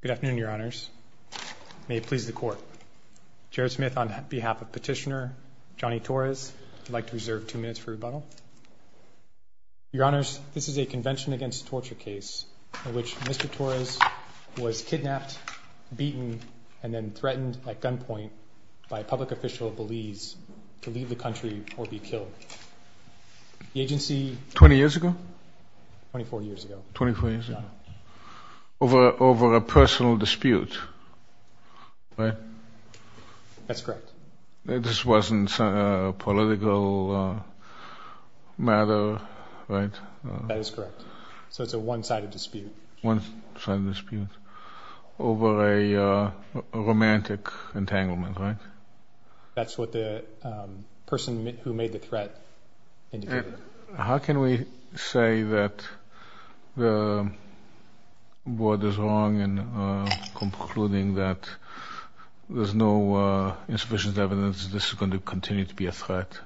Good afternoon, Your Honors. May it please the Court. Jared Smith on behalf of Petitioner Johnny Torres, I'd like to reserve two minutes for rebuttal. Your Honors, this is a Convention Against Torture case in which Mr. Torres was kidnapped, beaten, and then threatened at gunpoint by a public official of Belize to leave the country or be killed. The agency Twenty years ago? Twenty-four years ago. Twenty-four years ago? Yeah. Over a personal dispute, right? That's correct. This wasn't a political matter, right? That is correct. So it's a one-sided dispute. One-sided dispute over a romantic entanglement, right? That's what the person who made the threat indicated. How can we say that the board is wrong in concluding that there's no insufficient evidence that this is going to continue to be a threat?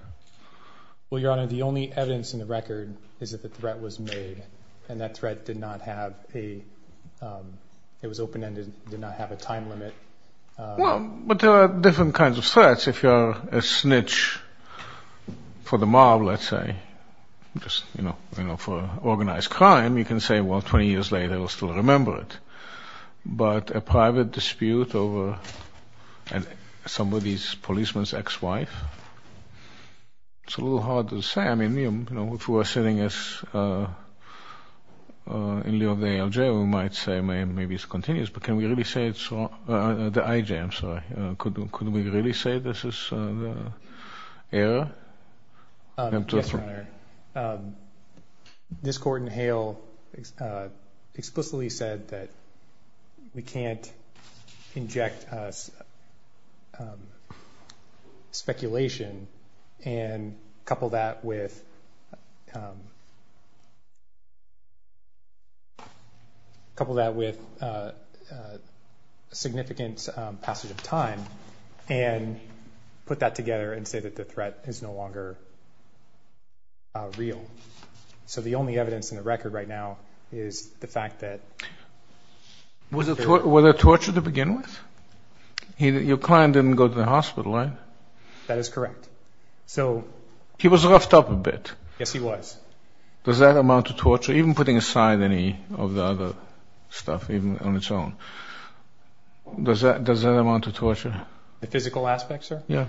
Well, Your Honor, the only evidence in the record is that the threat was made and that threat did not have a, it was open-ended, did not have a time limit. Well, but there are different kinds of threats. If you're a snitch for the mob, let's say, just, you know, for organized crime, you can say, well, 20 years later, we'll still remember it. But a private dispute over somebody's, policeman's ex-wife, it's a little hard to say. I mean, you know, if we were sitting as, in lieu of the ALJ, we might say maybe it's continuous, but can we really say it's, the IJ, I'm sorry, could we really say this is error? Your Honor, this court in Hale explicitly said that we can't inject speculation and couple that with, couple that with significant passage of time and put that together and say that the threat is no longer real. So the only evidence in the record right now is the fact that... Was it, was it torture to begin with? Your client didn't go to the hospital, right? That is correct. So... Does that amount to torture? Even putting aside any of the other stuff, even on its own, does that, does that amount to torture? The physical aspect, sir? Yeah.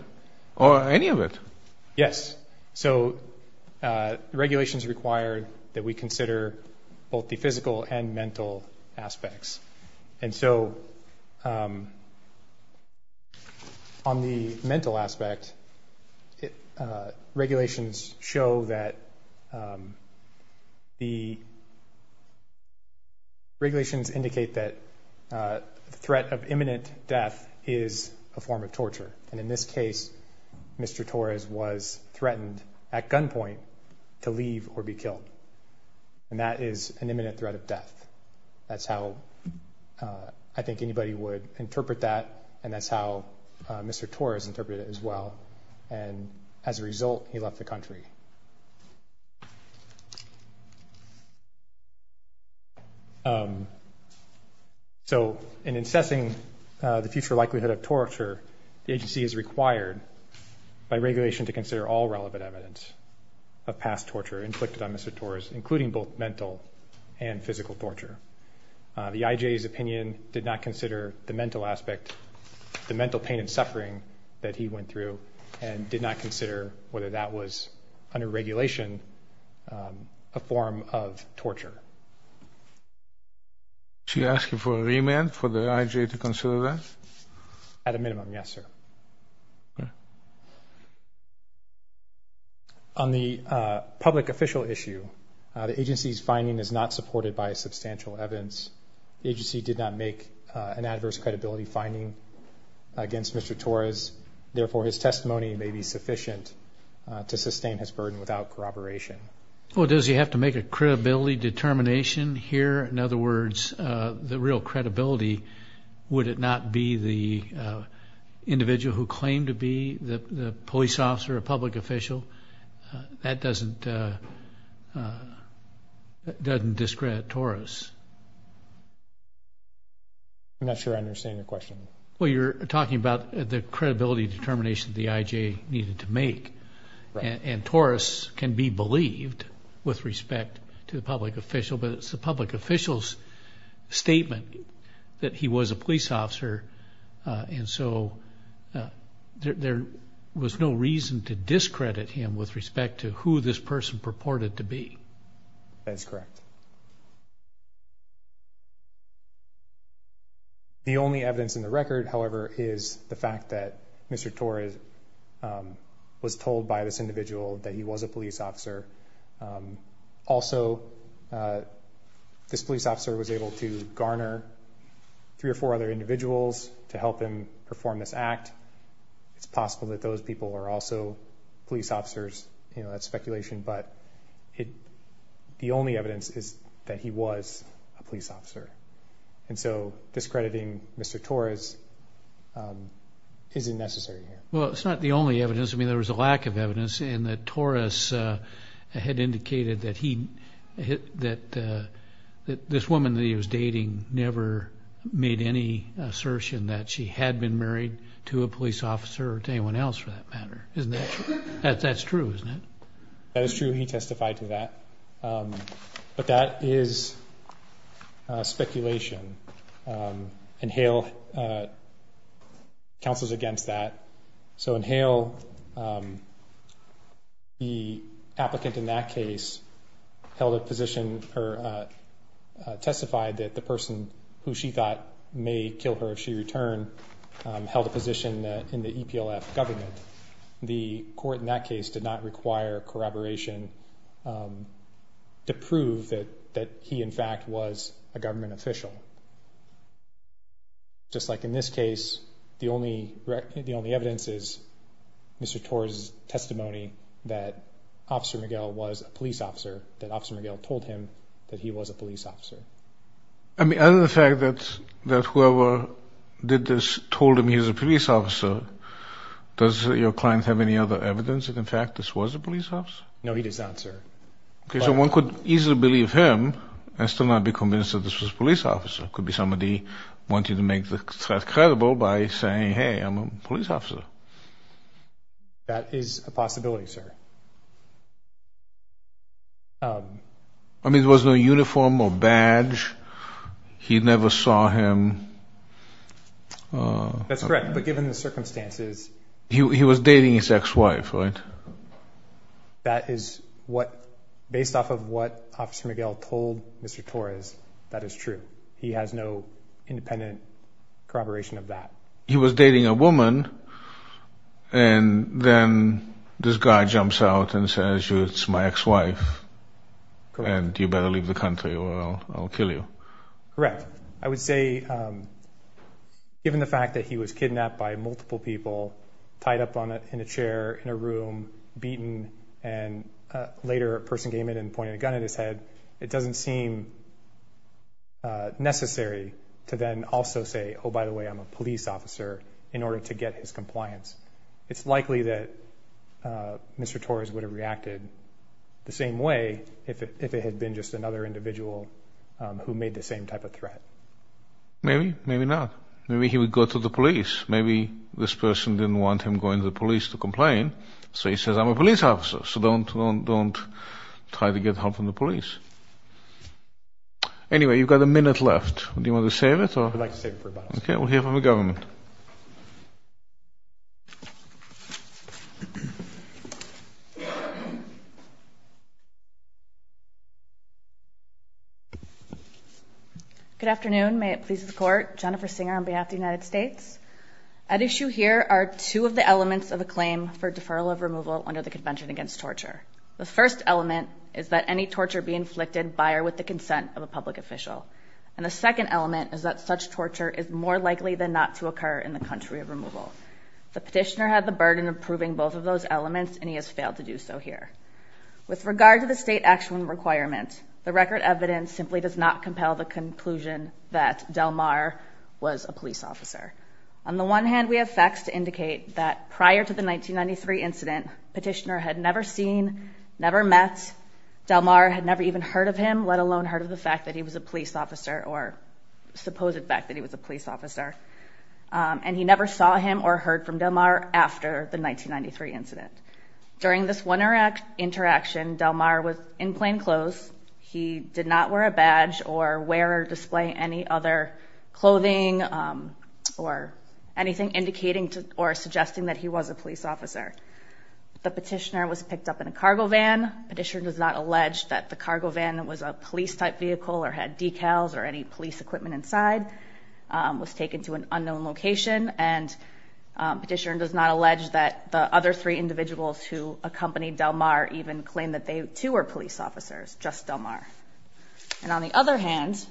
Or any of it. Yes. So, regulations require that we consider both the physical and mental aspects. And so, on the mental aspect, regulations show that, the regulations indicate that threat of imminent death is a form of torture. And in this case, Mr. Torres was threatened at gunpoint to leave or be killed. And that is an imminent threat of death. That's how I think anybody would interpret that. And that's how Mr. Torres interpreted it as well. And as a result, he left the country. So, in assessing the future likelihood of torture, the agency is required by regulation to consider all relevant evidence of past torture inflicted on Mr. Torres, including both mental and physical torture. The IJ's opinion did not consider the mental aspect, the mental pain and suffering that he went through, and did not consider whether that was, under regulation, a form of torture. Should we ask for a remand for the IJ to consider that? At a minimum, yes, sir. On the public official issue, the agency's finding is not supported by substantial evidence. The agency did not make an adverse credibility finding against Mr. Torres. Therefore, his testimony may be sufficient to sustain his burden without corroboration. Well, does he have to make a credibility determination here? In other words, the real credibility, would it not be the individual who claimed to be the police officer or public official? That doesn't discredit Torres. I'm not sure I understand your question. Well, you're talking about the credibility determination the IJ needed to make. And Torres can be believed with respect to the public official, but it's the public official's statement that he was a police officer, and so there was no reason to discredit him with respect to who this person purported to be. That is correct. The only evidence in the record, however, is the fact that Mr. Torres was told by this individual that he was a police officer. Also, this police officer was able to garner three or four other individuals to help him perform this act. It's possible that those people are also police officers. You know, that's speculation, but the only evidence is that he was a police officer. And so discrediting Mr. Torres isn't necessary here. Well, it's not the only evidence. I mean, there was a lack of evidence in that Torres had indicated that this woman that he was dating never made any assertion that she had been married to a police officer or to anyone else for that matter. Isn't that true? That's true, isn't it? That is true. He testified to that. But that is speculation. In Hale, counsel's against that. So in Hale, the applicant in that case held a position or testified that the person who she thought may kill her if she returned held a position in the EPLF government. The court in that case did not require corroboration to prove that he in fact was a government official. Just like in this case, the only evidence is Mr. Torres' testimony that Officer Miguel was a police officer, that Officer Miguel told him that he was a police officer. I mean, other than the fact that whoever did this told him he was a police officer, does your client have any other evidence that in fact this was a police officer? No, he does not, sir. Okay, so one could easily believe him and still not be convinced that this was a police officer. It could be somebody wanting to make the threat credible by saying, hey, I'm a police officer. That is a possibility, sir. I mean, there was no uniform or badge. He never saw him. That's correct, but given the circumstances. He was dating his ex-wife, right? That is what, based off of what Officer Miguel told Mr. Torres, that is true. He has no independent corroboration of that. He was dating a woman, and then this guy jumps out and says, it's my ex-wife, and you better leave the country or I'll kill you. Correct. I would say given the fact that he was kidnapped by multiple people, tied up in a chair in a room, beaten, and later a person came in and pointed a gun at his head, it doesn't seem necessary to then also say, oh, by the way, I'm a police officer, in order to get his compliance. It's likely that Mr. Torres would have reacted the same way if it had been just another individual who made the same type of threat. Maybe, maybe not. Maybe he would go to the police. Maybe this person didn't want him going to the police to complain, so he says, I'm a police officer, so don't try to get help from the police. Anyway, you've got a minute left. Do you want to save it? I'd like to save it for about a second. Okay. We'll hear from the government. Good afternoon. May it please the Court. Jennifer Singer on behalf of the United States. At issue here are two of the elements of a claim for deferral of removal under the Convention Against Torture. The first element is that any torture be inflicted by or with the consent of a public official. And the second element is that such torture is more likely than not to occur in the country of removal. The petitioner had the burden of proving both of those elements, and he has failed to do so here. With regard to the state action requirement, the record evidence simply does not compel the conclusion that Delmar was a police officer. On the one hand, we have facts to indicate that prior to the 1993 incident, petitioner had never seen, never met. Delmar had never even heard of him, let alone heard of the fact that he was a police officer or supposed fact that he was a police officer. And he never saw him or heard from Delmar after the 1993 incident. During this one interaction, Delmar was in plain clothes. He did not wear a badge or wear or display any other clothing or anything indicating or suggesting that he was a police officer. The petitioner was picked up in a cargo van. Petitioner does not allege that the cargo van was a police-type vehicle or had decals or any police equipment inside. It was taken to an unknown location. And petitioner does not allege that the other three individuals who accompanied Delmar even claimed that they, too, were police officers, just Delmar. And on the other hand,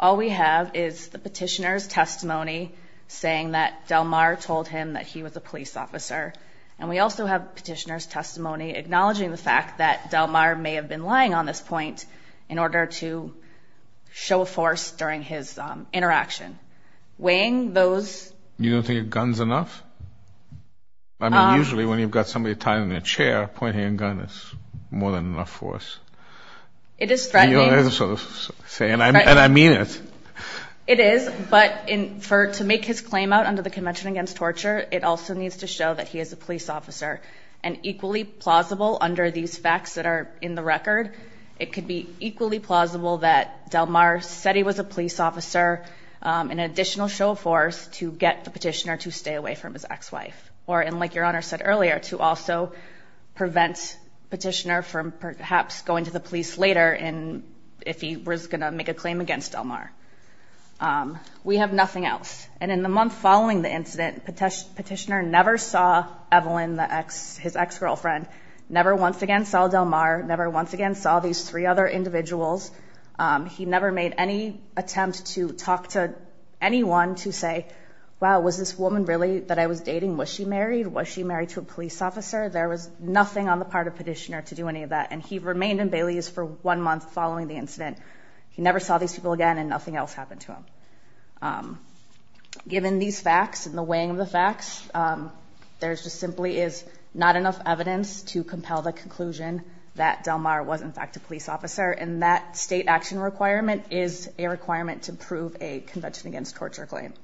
all we have is the petitioner's testimony saying that Delmar told him that he was a police officer. And we also have petitioner's testimony acknowledging the fact that Delmar may have been lying on this point in order to show force during his interaction. Weighing those... You don't think a gun's enough? I mean, usually when you've got somebody tied in a chair, pointing a gun is more than enough force. It is threatening. And I mean it. It is, but to make his claim out under the Convention Against Torture, it also needs to show that he is a police officer. And equally plausible under these facts that are in the record, it could be equally plausible that Delmar said he was a police officer in an additional show of force to get the petitioner to stay away from his ex-wife. Or, and like Your Honor said earlier, to also prevent petitioner from perhaps going to the police later if he was going to make a claim against Delmar. We have nothing else. And in the month following the incident, petitioner never saw Evelyn, his ex-girlfriend, never once again saw Delmar, never once again saw these three other individuals. He never made any attempt to talk to anyone to say, wow, was this woman really that I was dating, was she married, was she married to a police officer? There was nothing on the part of petitioner to do any of that. And he remained in Bailey's for one month following the incident. He never saw these people again, and nothing else happened to him. Given these facts and the weighing of the facts, there just simply is not enough evidence to compel the conclusion that Delmar was in fact a police officer. And that state action requirement is a requirement to prove a Convention Against Torture claim.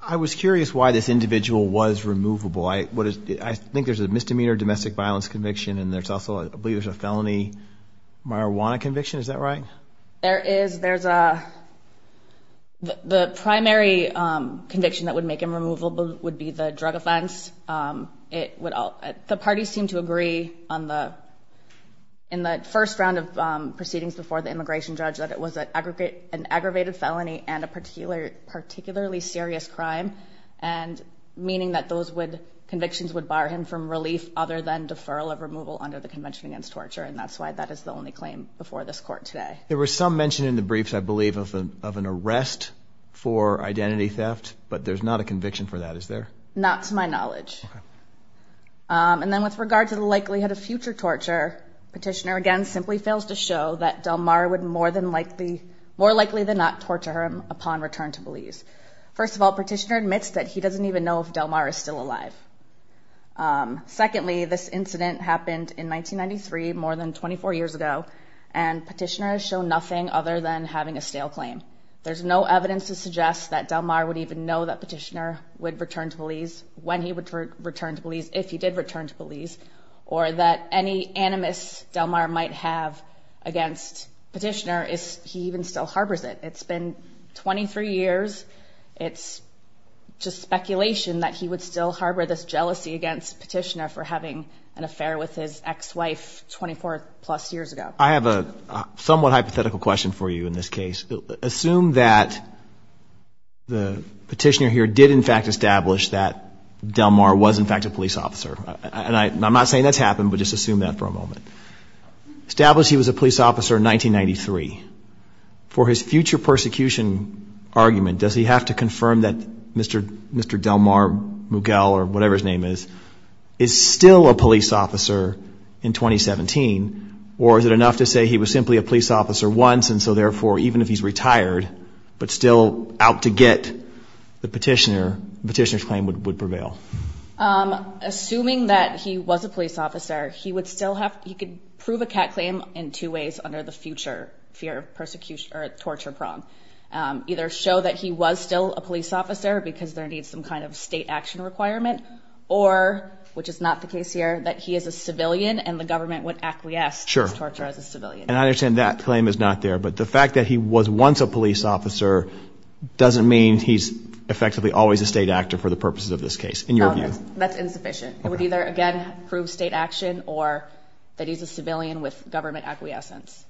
I was curious why this individual was removable. I think there's a misdemeanor domestic violence conviction, and there's also I believe there's a felony marijuana conviction, is that right? The primary conviction that would make him removable would be the drug offense. The parties seem to agree in the first round of proceedings before the immigration judge that it was an aggravated felony and a particularly serious crime, meaning that those convictions would bar him from relief other than deferral of removal under the Convention Against Torture. And that's why that is the only claim before this court today. There was some mention in the briefs, I believe, of an arrest for identity theft, but there's not a conviction for that, is there? Not to my knowledge. And then with regard to the likelihood of future torture, petitioner again simply fails to show that Delmar would more likely than not torture him upon return to Belize. First of all, petitioner admits that he doesn't even know if Delmar is still alive. Secondly, this incident happened in 1993, more than 24 years ago, and petitioner has shown nothing other than having a stale claim. There's no evidence to suggest that Delmar would even know that petitioner would return to Belize, when he would return to Belize, if he did return to Belize, or that any animus Delmar might have against petitioner is he even still harbors it. It's been 23 years. It's just speculation that he would still harbor this jealousy against petitioner for having an affair with his ex-wife 24-plus years ago. I have a somewhat hypothetical question for you in this case. Assume that the petitioner here did, in fact, establish that Delmar was, in fact, a police officer. And I'm not saying that's happened, but just assume that for a moment. Establish he was a police officer in 1993. For his future persecution argument, does he have to confirm that Mr. Delmar Mugel, or whatever his name is, is still a police officer in 2017, or is it enough to say he was simply a police officer once, and so therefore even if he's retired, but still out to get the petitioner, the petitioner's claim would prevail? Assuming that he was a police officer, he would still have to prove a cat claim in two ways under the future fear of torture prong. Either show that he was still a police officer because there needs some kind of state action requirement, or, which is not the case here, that he is a civilian and the government would acquiesce to his torture as a civilian. And I understand that claim is not there, but the fact that he was once a police officer doesn't mean he's effectively always a state actor for the purposes of this case, in your view. No, that's insufficient. It would either, again, prove state action, or that he's a civilian with government acquiescence.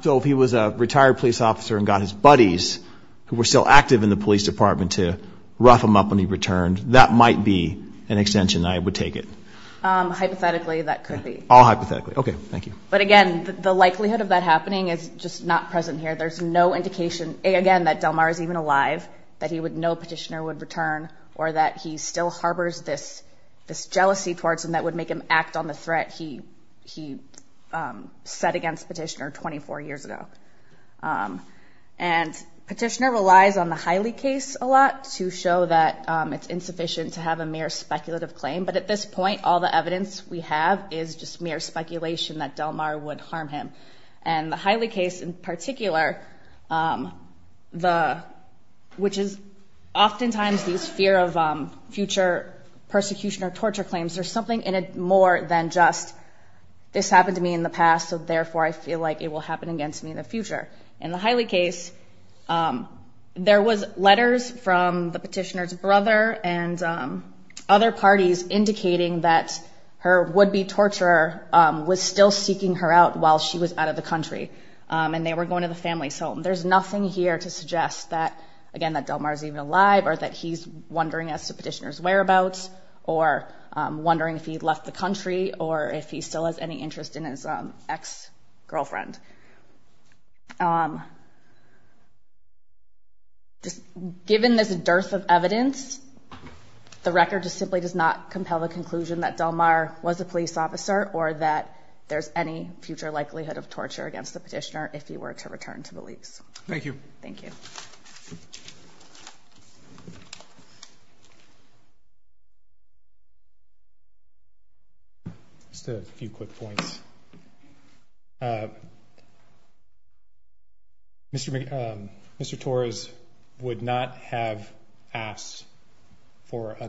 So if he was a retired police officer and got his buddies, who were still active in the police department, to rough him up when he returned, that might be an extension, I would take it. Hypothetically, that could be. All hypothetically. Okay, thank you. But again, the likelihood of that happening is just not present here. There's no indication, again, that Delmar is even alive, that he would know a petitioner would return, or that he still harbors this jealousy towards him that would make him act on the threat he set against petitioner 24 years ago. And petitioner relies on the Hiley case a lot to show that it's insufficient to have a mere speculative claim. But at this point, all the evidence we have is just mere speculation that Delmar would harm him. And the Hiley case in particular, which is oftentimes these fear of future persecution or torture claims, there's something in it more than just this happened to me in the past, so therefore I feel like it will happen again to me in the future. In the Hiley case, there was letters from the petitioner's brother and other parties indicating that her would-be torturer was still seeking her out while she was out of the country, and they were going to the family's home. There's nothing here to suggest that, again, that Delmar is even alive, or that he's wondering as to petitioner's whereabouts, or wondering if he left the country, or if he still has any interest in his ex-girlfriend. Given this dearth of evidence, the record just simply does not compel the conclusion that Delmar was a police officer or that there's any future likelihood of torture against the petitioner if he were to return to the leagues. Thank you. Thank you. Thank you. Just a few quick points. Mr. Torres would not have asked for a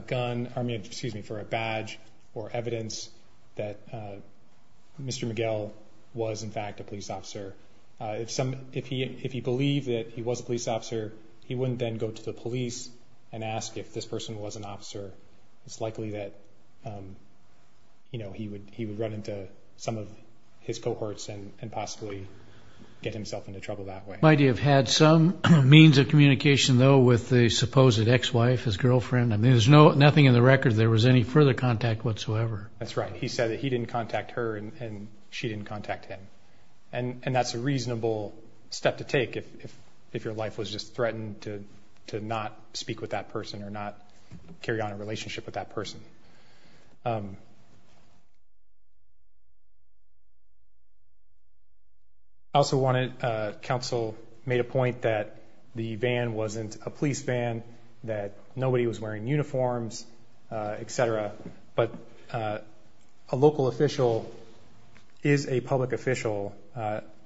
badge or evidence that Mr. Miguel was, in fact, a police officer. If he believed that he was a police officer, he wouldn't then go to the police and ask if this person was an officer. It's likely that he would run into some of his cohorts and possibly get himself into trouble that way. Might he have had some means of communication, though, with the supposed ex-wife, his girlfriend? I mean, there's nothing in the record that there was any further contact whatsoever. That's right. He said that he didn't contact her and she didn't contact him. And that's a reasonable step to take if your life was just threatened to not speak with that person or not carry on a relationship with that person. I also wanted counsel made a point that the van wasn't a police van, that nobody was wearing uniforms, et cetera, but a local official is a public official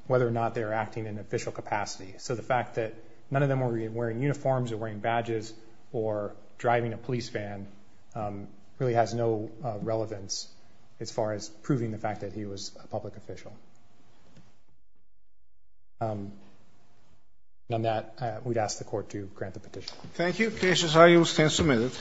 whether or not they're acting in official capacity. So the fact that none of them were wearing uniforms or wearing badges or driving a police van really has no relevance as far as proving the fact that he was a public official. On that, we'd ask the Court to grant the petition. Thank you. Cases are used and submitted.